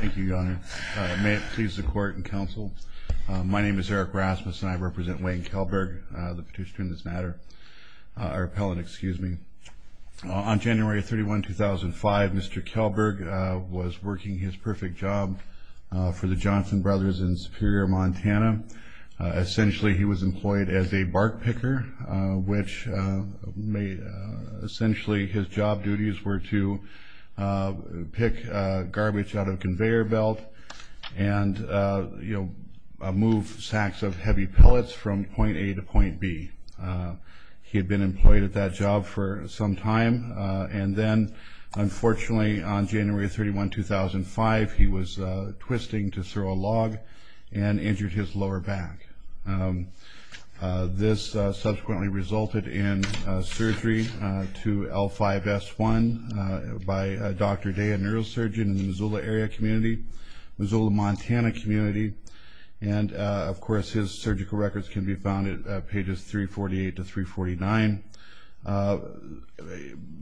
Thank you, Your Honor. May it please the Court and Counsel, my name is Eric Rasmus and I represent Wayne Kellberg, the petitioner in this matter, our appellant, excuse me. On January 31, 2005, Mr. Kellberg was working his perfect job for the Johnson Brothers in Superior, Montana. Essentially, he was employed as a bark picker, which made essentially his job duties were to pick garbage out of a conveyor belt and, you know, move sacks of heavy pellets from point A to point B. He had been employed at that job for some time and then, unfortunately, on January 31, 2005, he was twisting to throw a log and injured his lower back. This subsequently resulted in surgery to L5S1 by Dr. Day, a neurosurgeon in the Missoula area community, Missoula, Montana community, and, of course, his surgical records can be found at pages 348 to 349.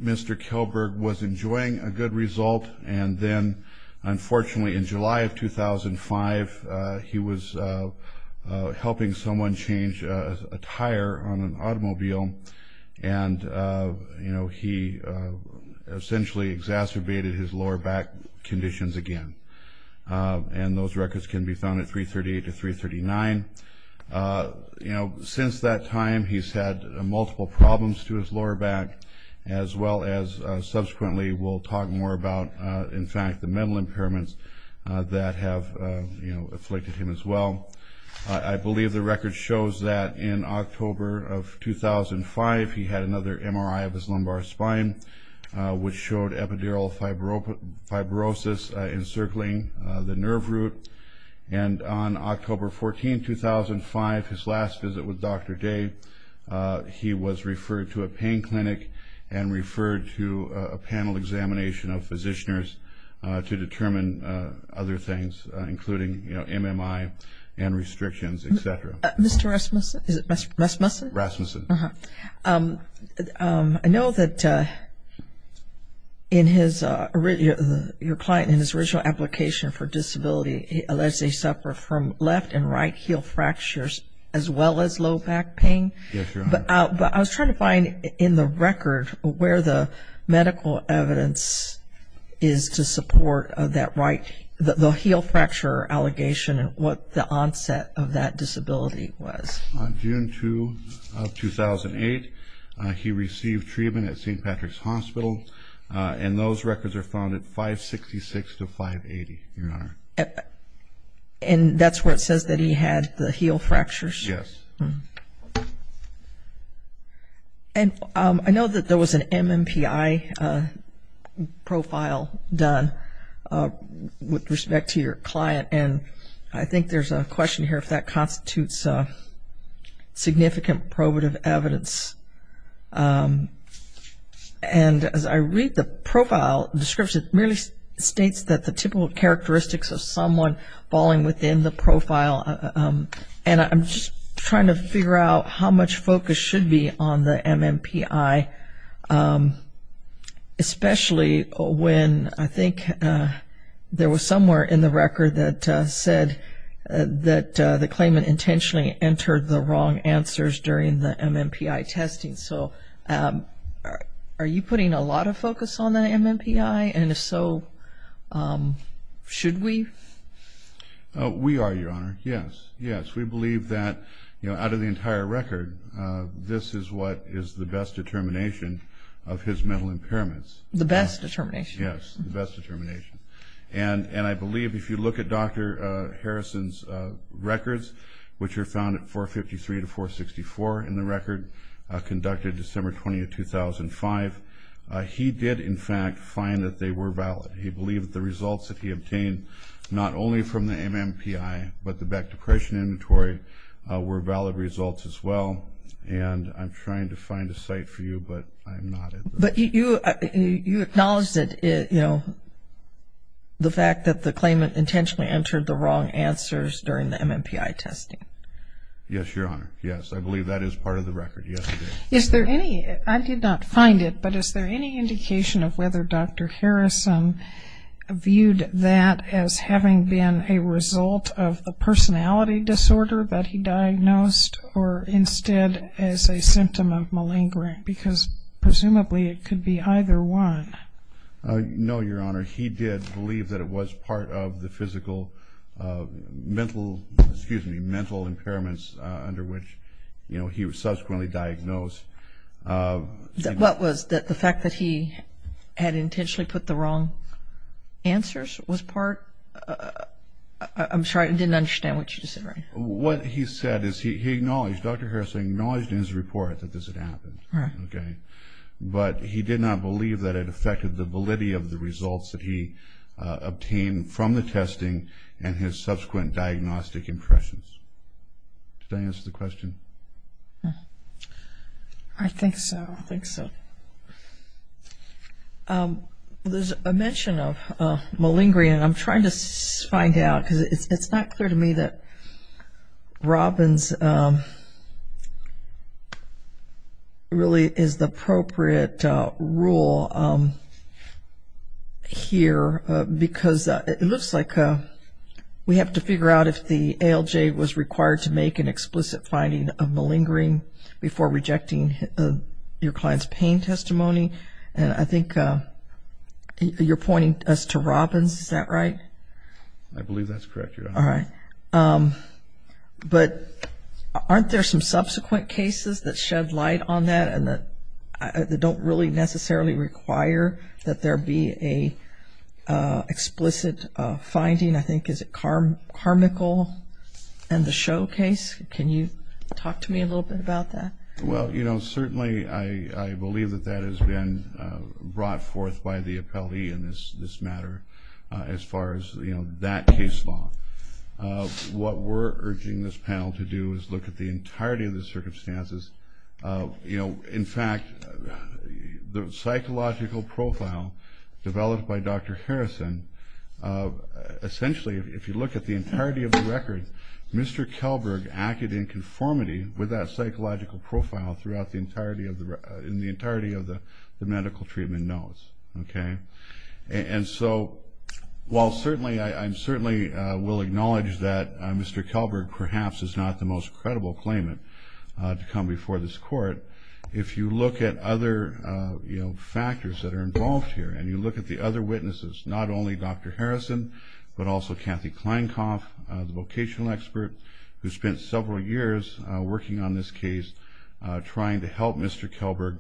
Mr. Kellberg was enjoying a good result and then, unfortunately, in July of 2005, he was helping someone change a tire on an accident and, you know, he essentially exacerbated his lower back conditions again. And those records can be found at 338 to 339. You know, since that time, he's had multiple problems to his lower back, as well as subsequently we'll talk more about, in fact, the mental impairments that have, you know, afflicted him as well. I believe the record shows that in October of 2005, he had another MRI of his lumbar spine, which showed epidural fibrosis encircling the nerve root. And on October 14, 2005, his last visit with Dr. Day, he was referred to a pain clinic and referred to a panel examination of physicians to determine other things, including, you know, MMI and restrictions, etc. Mr. Rasmussen, is it Mr. Rasmussen? Rasmussen. I know that in his, your client, in his original application for disability, he allegedly suffered from left and right heel fractures, as well as low back pain. Yes, Your Honor. But I was trying to find in the right, the heel fracture allegation and what the onset of that disability was. On June 2, 2008, he received treatment at St. Patrick's Hospital, and those records are found at 566 to 580, Your Honor. And that's where it says that he had the with respect to your client. And I think there's a question here if that constitutes significant probative evidence. And as I read the profile description, it really states that the typical characteristics of someone falling within the profile, and I'm just trying to figure out how much focus should be on the MMPI, especially when I think there was somewhere in the record that said that the claimant intentionally entered the wrong answers during the MMPI testing. So are you putting a lot of focus on the MMPI? And if so, should we? We are, Your Honor. Yes, yes. We believe that, you know, out of the entire record, this is what is the best determination of his mental impairments. The best determination? Yes, the best determination. And I believe if you look at Dr. Harrison's records, which are found at 453 to 464 in the record, conducted December 20, 2005, he did, in fact, find that they were valid. He believed the results that he obtained, not only from the MMPI, but the Beck Depression Inventory, were valid results as well. And I'm trying to find a site for you, but I'm not. But you acknowledged that, you know, the fact that the claimant intentionally entered the wrong answers during the MMPI testing. Yes, Your Honor. Yes, I believe that is part of the record. Yes. Is there any, I did not find it, but is there any indication of whether Dr. Harrison viewed that as having been a result of the personality disorder that he diagnosed or instead as a symptom of malingering? Because presumably it could be either one. No, Your Honor. He did believe that it was part of the physical mental, excuse me, mental impairments under which, you know, he was subsequently diagnosed. What was that? The fact that he had intentionally put the wrong answers was part? I'm sorry, I didn't understand what you just said. What he said is he acknowledged, Dr. Harrison acknowledged in his report that this had happened. Right. Okay. But he did not believe that it affected the validity of the results that he obtained from the testing and his subsequent diagnostic impressions. Did I answer the question? I think so. I think so. There's a mention of malingering and I'm trying to find out because it's not clear to me that Robbins really is the appropriate rule here because it looks like we have to is required to make an explicit finding of malingering before rejecting your client's pain testimony. And I think you're pointing us to Robbins. Is that right? I believe that's correct, Your Honor. All right. But aren't there some subsequent cases that shed light on that and that don't really necessarily require that there be a explicit finding? I think is it Carmichael and the show case? Can you talk to me a little bit about that? Well, you know, certainly I believe that that has been brought forth by the appellee in this matter as far as, you know, that case law. What we're urging this panel to do is look at the entirety of the circumstances. You know, in fact, the psychological profile developed by Dr. Harrison, essentially, if you look at the entirety of the record, Mr. Kelberg acted in conformity with that psychological profile throughout the entirety of the medical treatment notes. Okay. And so, while certainly, I certainly will acknowledge that Mr. Kelberg perhaps is not the most credible claimant to come before this court, if you look at other, you know, factors that are involved here and you look at the other witnesses, not only Dr. Harrison, but also Kathy Kleinkopf, the vocational expert who spent several years working on this case, trying to help Mr. Kelberg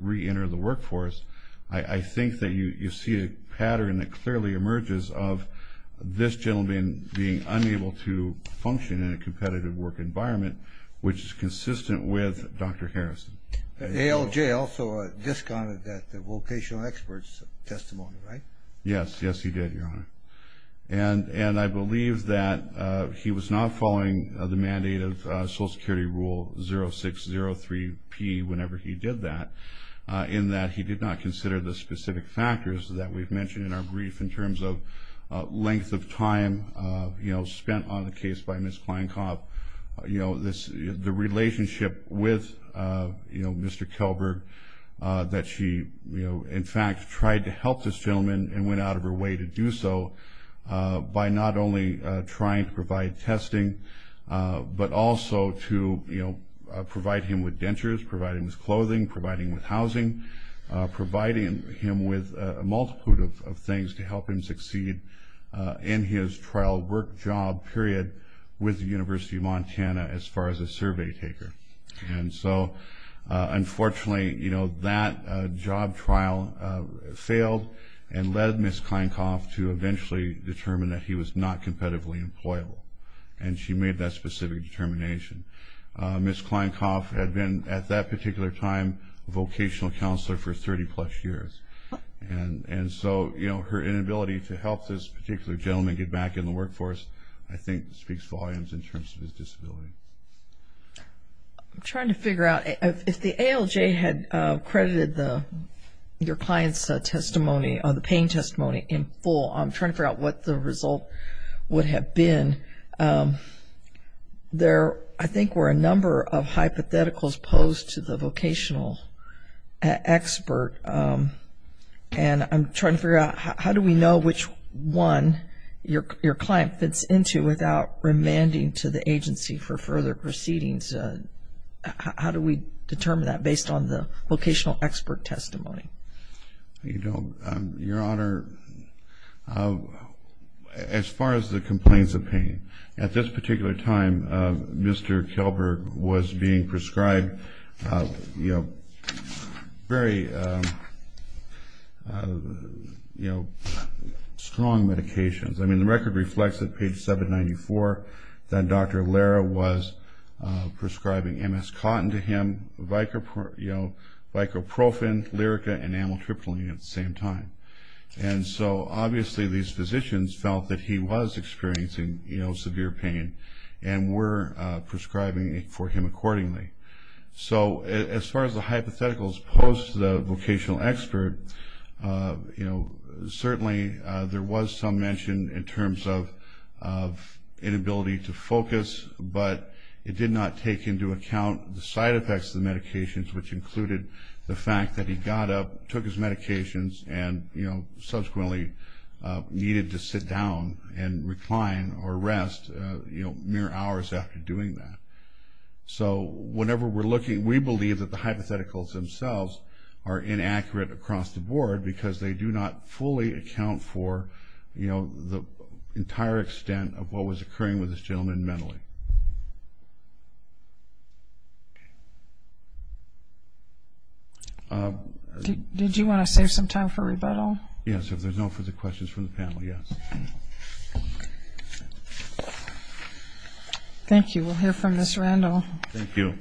reenter the workforce, I think that you see a pattern that clearly emerges of this gentleman being unable to function in a competitive work environment, which is consistent with Dr. Harrison. ALJ also discounted that the vocational expert's testimony, right? Yes, yes he did, Your Honor. And I believe that he was not following the mandate of Social Security Rule 0603P whenever he did that, in that he did not consider the specific factors that we've mentioned in our brief in terms of length of time, you know, spent on the case by Ms. Kleinkopf, you know, this, the relationship with, you know, Mr. Kelberg that she, you know, in fact, tried to help this gentleman and went out of her way to do so by not only trying to provide testing, but also to, you know, provide him with dentures, providing his clothing, providing with housing, providing him with a multitude of things to help him succeed in his trial work-job period with the University of Montana as far as a survey taker. And so, unfortunately, you know, that job trial failed and led Ms. Kleinkopf to eventually determine that he was not competitively employable, and she made that specific determination. Ms. Kleinkopf had been, at that particular time, a vocational counselor for 30-plus years, and so, you know, her inability to help this particular gentleman get back in the workforce, I think, speaks volumes in terms of his disability. I'm trying to figure out, if the ALJ had credited the, your client's testimony or the pain testimony in full, I'm trying to figure out what the result would have been. There, I think, were a number of hypotheticals posed to the vocational expert, and I'm trying to figure out how do we know which one your client fits into without remanding to the agency for further proceedings? How do we determine that based on the vocational expert testimony? You know, Your Honor, as far as the complaints of pain, at this particular time, Mr. Kelberg was being prescribed, you know, very, you know, strong medications. I mean, the record reflects that, page 794, that Dr. Lara was prescribing MS cotton to him, you know, Vicoprofen, Lyrica, and Amitriptyline at the same time. And so, obviously, these physicians felt that he was experiencing, you know, severe pain and were prescribing for him accordingly. So, as far as the hypotheticals posed to the vocational expert, you know, certainly there was some mention in terms of inability to focus, but it did not take into account the side effects of the medications, which included the fact that he got up, took his rest, you know, mere hours after doing that. So, whenever we're looking, we believe that the hypotheticals themselves are inaccurate across the board because they do not fully account for, you know, the entire extent of what was occurring with this gentleman mentally. Did you want to save some time for rebuttal? Yes, if there's no further questions from the panel, yes. Thank you. We'll hear from Ms. Randall. Thank you.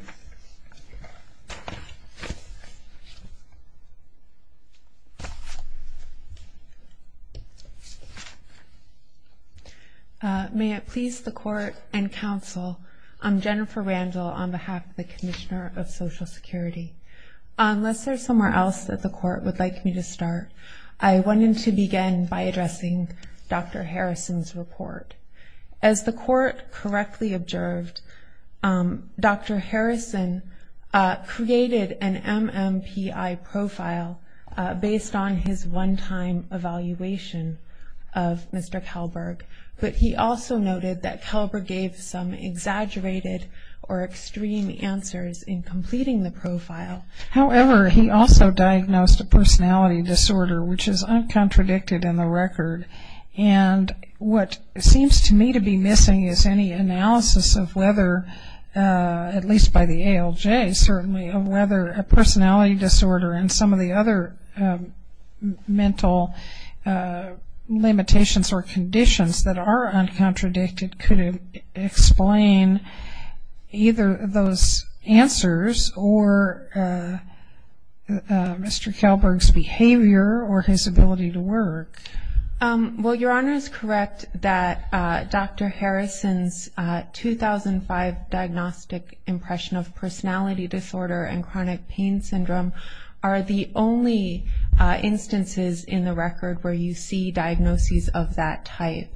May it please the court and counsel, I'm Jennifer Randall on behalf of the Commissioner of Social Security. Unless there's somewhere else that the court would like me to start, I wanted to begin by addressing Dr. Harrison's report. As the court correctly observed, Dr. Harrison created an MMPI profile based on his one-time evaluation of Mr. Kalberg, but he also noted that Kalberg gave some exaggerated or extreme answers in completing the profile. However, he also diagnosed a personality disorder, which is uncontradicted in the record. And what seems to me to be missing is any analysis of whether, at least by the ALJ certainly, of whether a personality disorder and some of the other mental limitations or conditions that are contradicted could explain either those answers or Mr. Kalberg's behavior or his ability to work. Well, Your Honor is correct that Dr. Harrison's 2005 diagnostic impression of personality disorder and chronic pain syndrome are the only instances in the record where you see diagnoses of that type.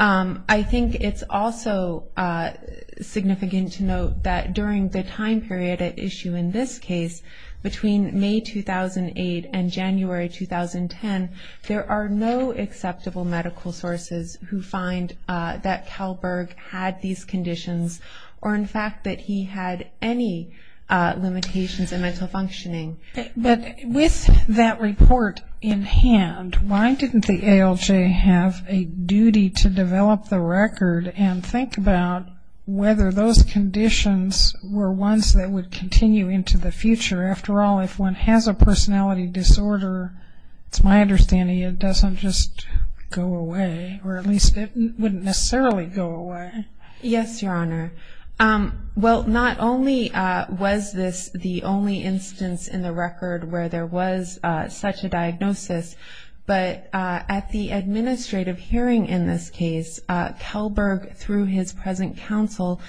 I think it's also significant to note that during the time period at issue in this case, between May 2008 and January 2010, there are no acceptable medical sources who find that Kalberg had these conditions or, in fact, that he had any limitations in mental functioning. But with that report in hand, why didn't the ALJ have a duty to develop the record and think about whether those conditions were ones that would continue into the future? After all, if one has a personality disorder, it's my understanding it doesn't just go away, or at least it wouldn't necessarily go away. Yes, Your Honor. Well, not only was this the only instance in the record where there was such a diagnosis, but at the administrative hearing in this case, Kalberg, through his present counsel,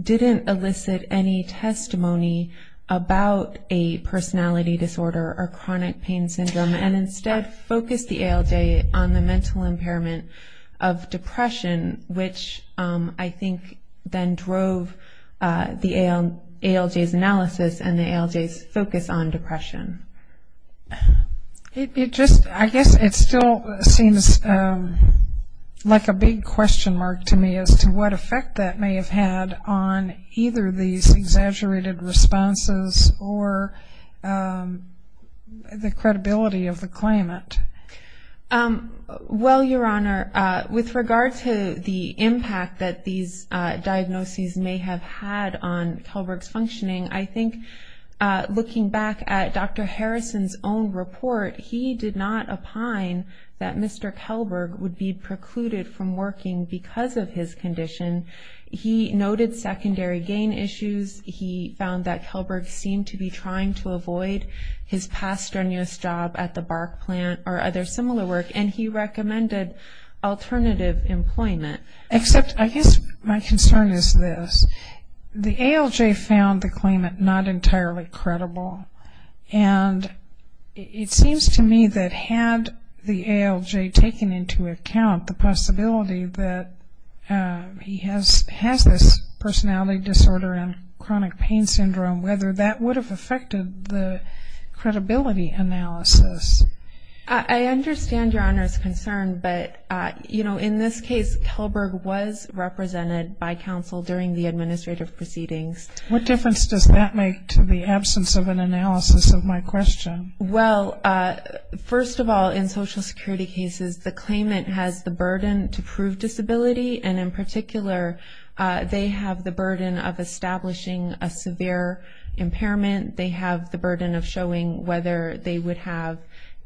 didn't elicit any testimony about a personality disorder or chronic pain syndrome and instead focused the ALJ on the mental impairment of depression, which I think then drove the ALJ's analysis and the ALJ's focus on depression. I guess it still seems like a big question mark to me as to what effect that may have had on either these exaggerated responses or the credibility of the claimant. Well, Your Honor, with regard to the impact that these diagnoses may have had on Kalberg's functioning, I think looking back at Dr. Harrison's own report, he did not opine that Mr. Kalberg would be precluded from working because of his condition. He noted secondary gain issues. He found that Kalberg seemed to be trying to avoid his past strenuous job at the bark plant or other similar work, and he recommended alternative employment. Except I guess my concern is this. The ALJ found the claimant not entirely credible, and it seems to me that had the ALJ taken into account the possibility that he has this personality disorder and chronic pain syndrome, whether that would have affected the credibility analysis. I understand Your Honor's concern, but in this case, Kalberg was represented by counsel during the administrative proceedings. What difference does that make to the absence of an analysis of my question? Well, first of all, in Social Security cases, the claimant has the burden to prove disability, and in particular, they have the burden of establishing a impairment. They have the burden of showing whether they would have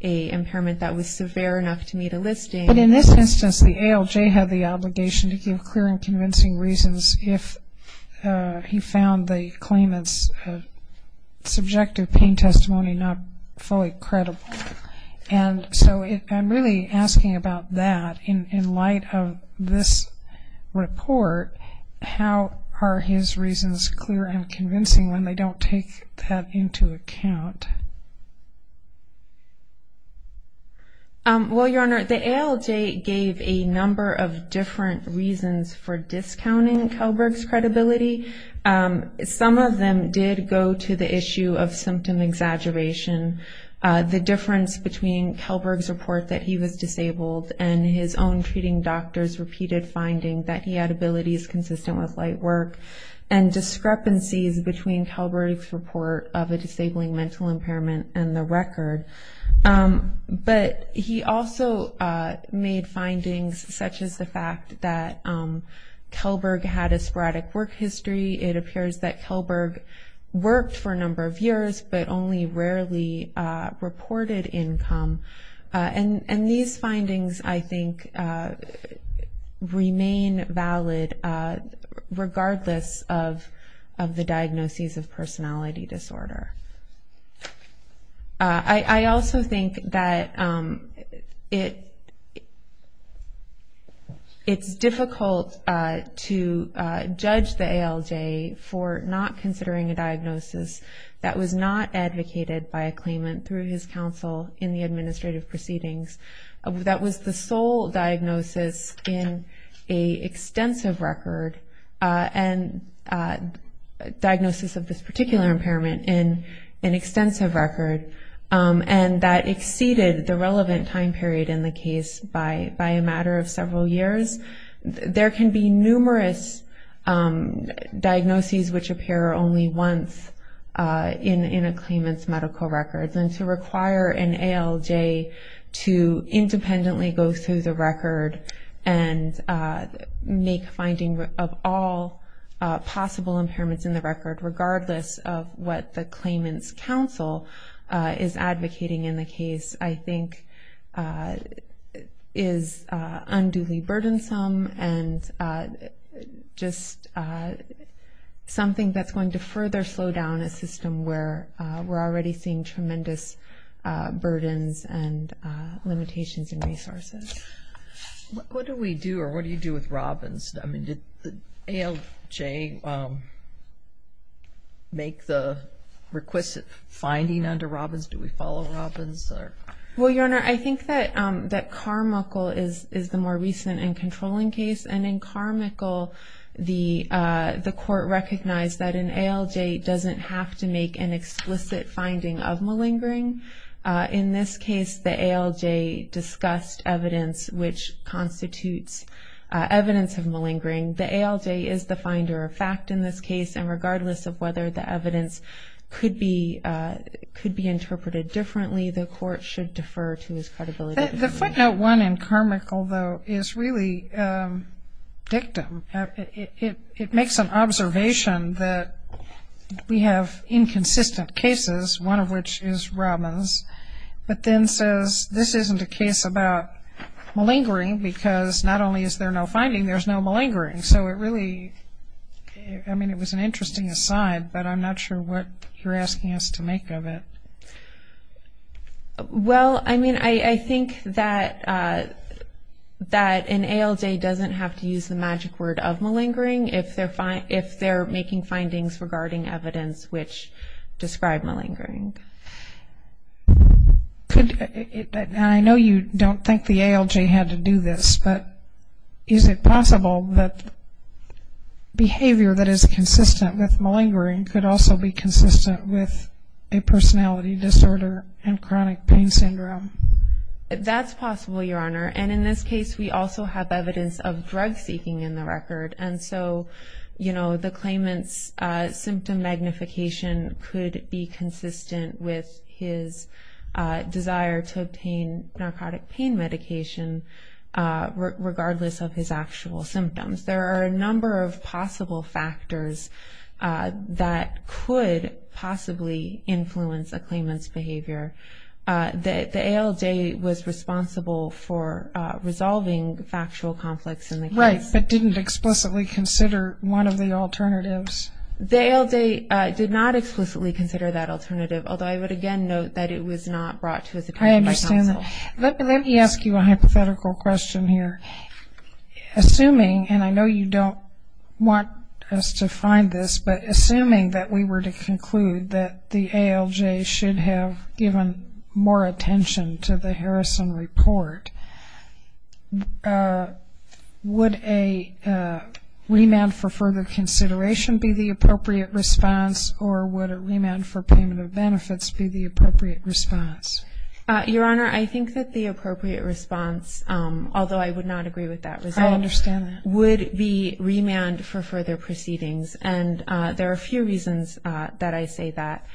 a impairment that was severe enough to meet a listing. But in this instance, the ALJ had the obligation to give clear and convincing reasons if he found the claimant's subjective pain testimony not fully credible. And so I'm really asking about that. In light of this report, how are his reasons clear and convincing when they don't take that into account? Well, Your Honor, the ALJ gave a number of different reasons for discounting Kalberg's credibility. Some of them did go to the issue of symptom exaggeration, the difference between Kalberg's report that he was disabled and his own treating doctor's repeated finding that he had abilities consistent with light work, and discrepancies between Kalberg's report of a disabling mental impairment and the record. But he also made findings such as the fact that Kalberg had a sporadic work history. It appears that Kalberg worked for a number of years but only rarely reported income. And these findings, I think, remain valid regardless of the diagnoses of personality disorder. I also think that it's difficult to judge the ALJ for not considering a diagnosis that was not advocated by a claimant through his counsel in the diagnosis of this particular impairment in an extensive record and that exceeded the relevant time period in the case by a matter of several years. There can be numerous diagnoses which appear only once in a claimant's medical records and to require an ALJ to independently go through the record and make finding of all possible impairments in the record regardless of what the claimant's counsel is advocating in the case, I think, is unduly burdensome and just something that's going to further slow down a system where we're already facing tremendous burdens and limitations in resources. What do we do or what do you do with Robbins? I mean, did the ALJ make the requisite finding under Robbins? Do we follow Robbins? Well, Your Honor, I think that Carmichael is the more recent and controlling case. And in Carmichael, the court recognized that an ALJ doesn't have to make an explicit finding of malingering. In this case, the ALJ discussed evidence which constitutes evidence of malingering. The ALJ is the finder of fact in this case and regardless of whether the evidence could be interpreted differently, the court should defer to its credibility. The footnote one in Carmichael, though, is really dictum. It makes an inconsistent cases, one of which is Robbins, but then says this isn't a case about malingering because not only is there no finding, there's no malingering. So it really, I mean, it was an interesting aside, but I'm not sure what you're asking us to make of it. Well, I mean, I think that an ALJ doesn't have to use the magic word of describe malingering. And I know you don't think the ALJ had to do this, but is it possible that behavior that is consistent with malingering could also be consistent with a personality disorder and chronic pain syndrome? That's possible, Your Honor. And in this case, we also have evidence of drug magnification could be consistent with his desire to obtain narcotic pain medication regardless of his actual symptoms. There are a number of possible factors that could possibly influence a claimant's behavior. The ALJ was responsible for resolving factual conflicts in the case. Right, but didn't explicitly consider one of the alternatives. The ALJ did not explicitly consider that alternative, although I would again note that it was not brought to its attention by counsel. Let me ask you a hypothetical question here. Assuming, and I know you don't want us to find this, but assuming that we were to conclude that the ALJ should have given more attention to the Harrison report, would a remand for further consideration be the appropriate response or would a remand for payment of benefits be the appropriate response? Your Honor, I think that the appropriate response, although I would not agree with that result, would be remand for further proceedings. And there are a few reasons that I say that.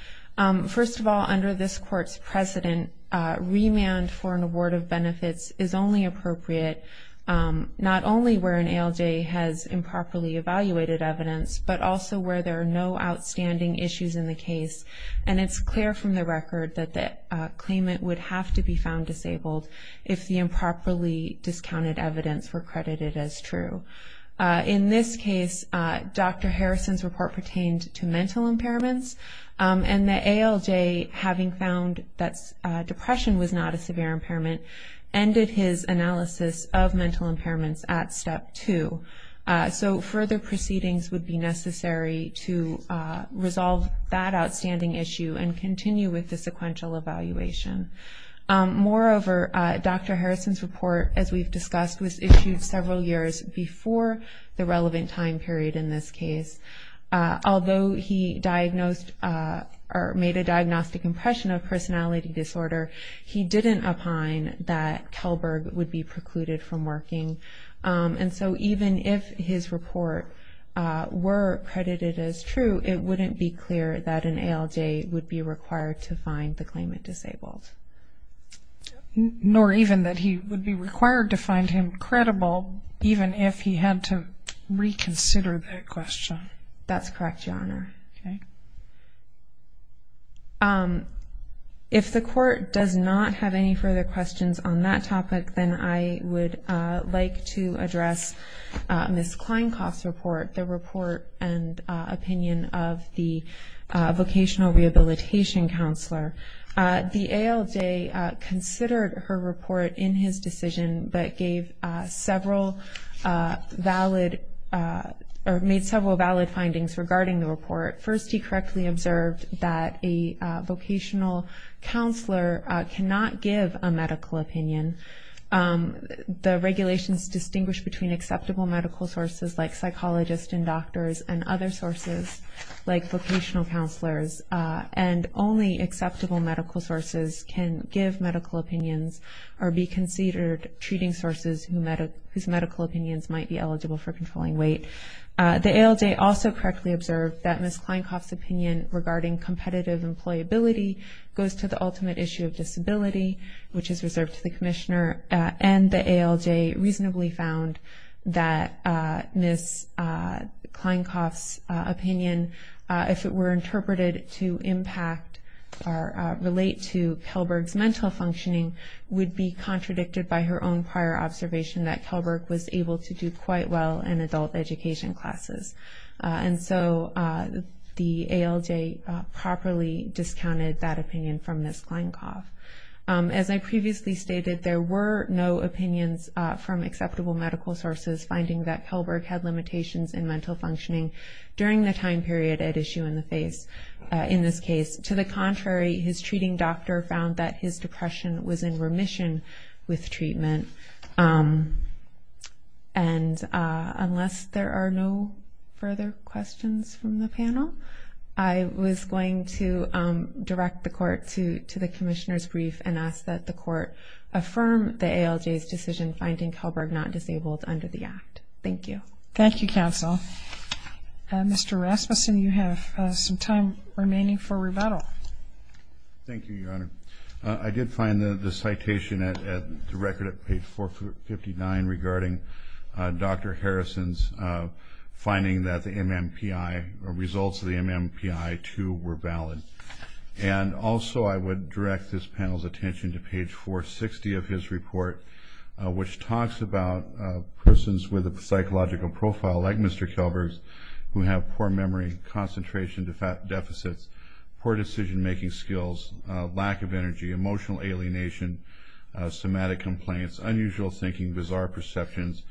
First of all, under this Court's precedent, remand for an award of benefits is only appropriate not only where an ALJ has improperly evaluated evidence, but also where there are no outstanding issues in the case. And it's clear from the record that the claimant would have to be found disabled if the improperly discounted evidence were credited as true. In this case, Dr. Harrison's report pertained to mental impairments and the ALJ, having found that depression was not a severe impairment, ended his analysis of mental impairments at step two. So further proceedings would be necessary to resolve that outstanding issue and continue with the sequential evaluation. Moreover, Dr. Harrison's report, as we've discussed, was issued several years before the relevant time period in this case. Although he diagnosed or made a diagnostic impression of personality disorder, he didn't opine that Kellberg would be precluded from working. And so even if his report were credited as true, it wouldn't be clear that an ALJ would be required to find the claimant disabled. Nor even that he would be required to find him credible, even if he had to reconsider that question. That's correct, Your Honor. If the court does not have any further questions on that topic, then I would like to address Ms. Kleinkauf's report, the report and opinion of the vocational rehabilitation counselor. The ALJ considered her report in his decision, but made several valid findings regarding the report. First, he correctly observed that a vocational counselor cannot give a medical opinion. The regulations distinguish between acceptable medical sources, like psychologists and doctors, and other sources, like vocational counselors. And only acceptable medical sources can give medical opinions or be considered treating sources whose medical opinions might be eligible for controlling weight. The ALJ also correctly observed that Ms. Kleinkauf's opinion regarding competitive employability goes to the ultimate issue of disability, which is reserved to the commissioner. And the ALJ reasonably found that Ms. Kleinkauf's opinion, if it were interpreted to impact or relate to Kellberg's mental functioning, would be contradicted by her own prior observation that Kellberg was able to do quite well in adult education classes. And so the ALJ properly discounted that opinion from Ms. Kleinkauf. As I previously stated, there were no opinions from acceptable medical sources finding that Kellberg had limitations in mental functioning during the time period at issue in this case. To the contrary, his treating doctor found that his depression was in remission with treatment. And unless there are no further questions from the panel, I was going to direct the court to the commissioner's brief and ask that the court affirm the ALJ's decision finding Kellberg not disabled under the act. Thank you. Thank you, counsel. Mr. Rasmussen, you have some time remaining for rebuttal. Thank you, Your Honor. I did find the citation at the record at page 459 regarding Dr. Harrison's finding that the MMPI or results of the MMPI, too, were valid. And also, I would direct this panel's attention to page 460 of his report, which talks about persons with a psychological profile like Mr. Kellberg's who have poor memory, concentration deficits, poor decision making skills, lack of energy, emotional alienation, somatic complaints, unusual thinking, bizarre perceptions,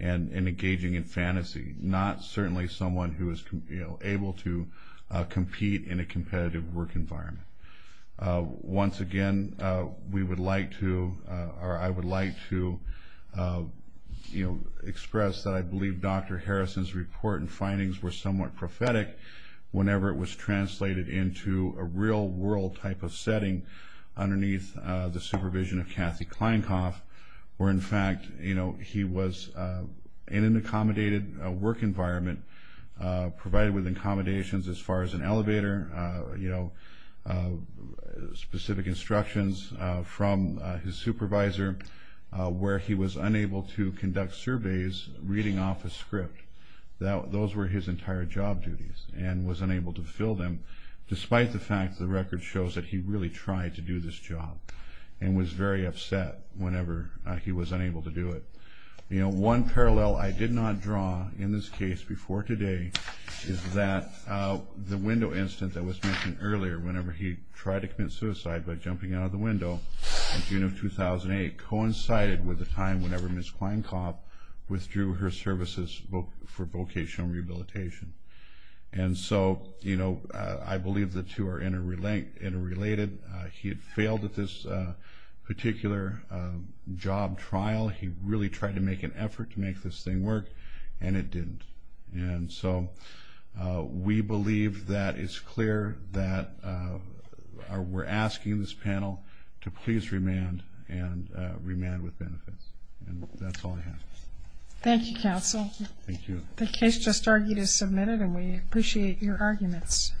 and engaging in fantasy, not certainly someone who is able to compete in a competitive work environment. Once again, we would like to or I would like to express that I believe Dr. Harrison's report and findings were somewhat prophetic whenever it was presented in a real-world type of setting underneath the supervision of Kathy Kleinkopf, where in fact, you know, he was in an accommodated work environment provided with accommodations as far as an elevator, you know, specific instructions from his supervisor, where he was unable to conduct surveys reading off a script. Those were his entire job duties and was unable to fill them, despite the fact the record shows that he really tried to do this job and was very upset whenever he was unable to do it. You know, one parallel I did not draw in this case before today is that the window incident that was mentioned earlier, whenever he tried to commit suicide by jumping out of the window in June of 2008 coincided with the time whenever Ms. Kleinkopf withdrew her services for vocational rehabilitation. And so, you know, I believe the two are interrelated. He had failed at this particular job trial. He really tried to make an effort to make this thing work and it didn't. And so, we believe that it's clear that we're asking this panel to please remand and remand with benefits. And that's all I have. Thank you, counsel. Thank you. The case just argued is submitted and we appreciate your arguments.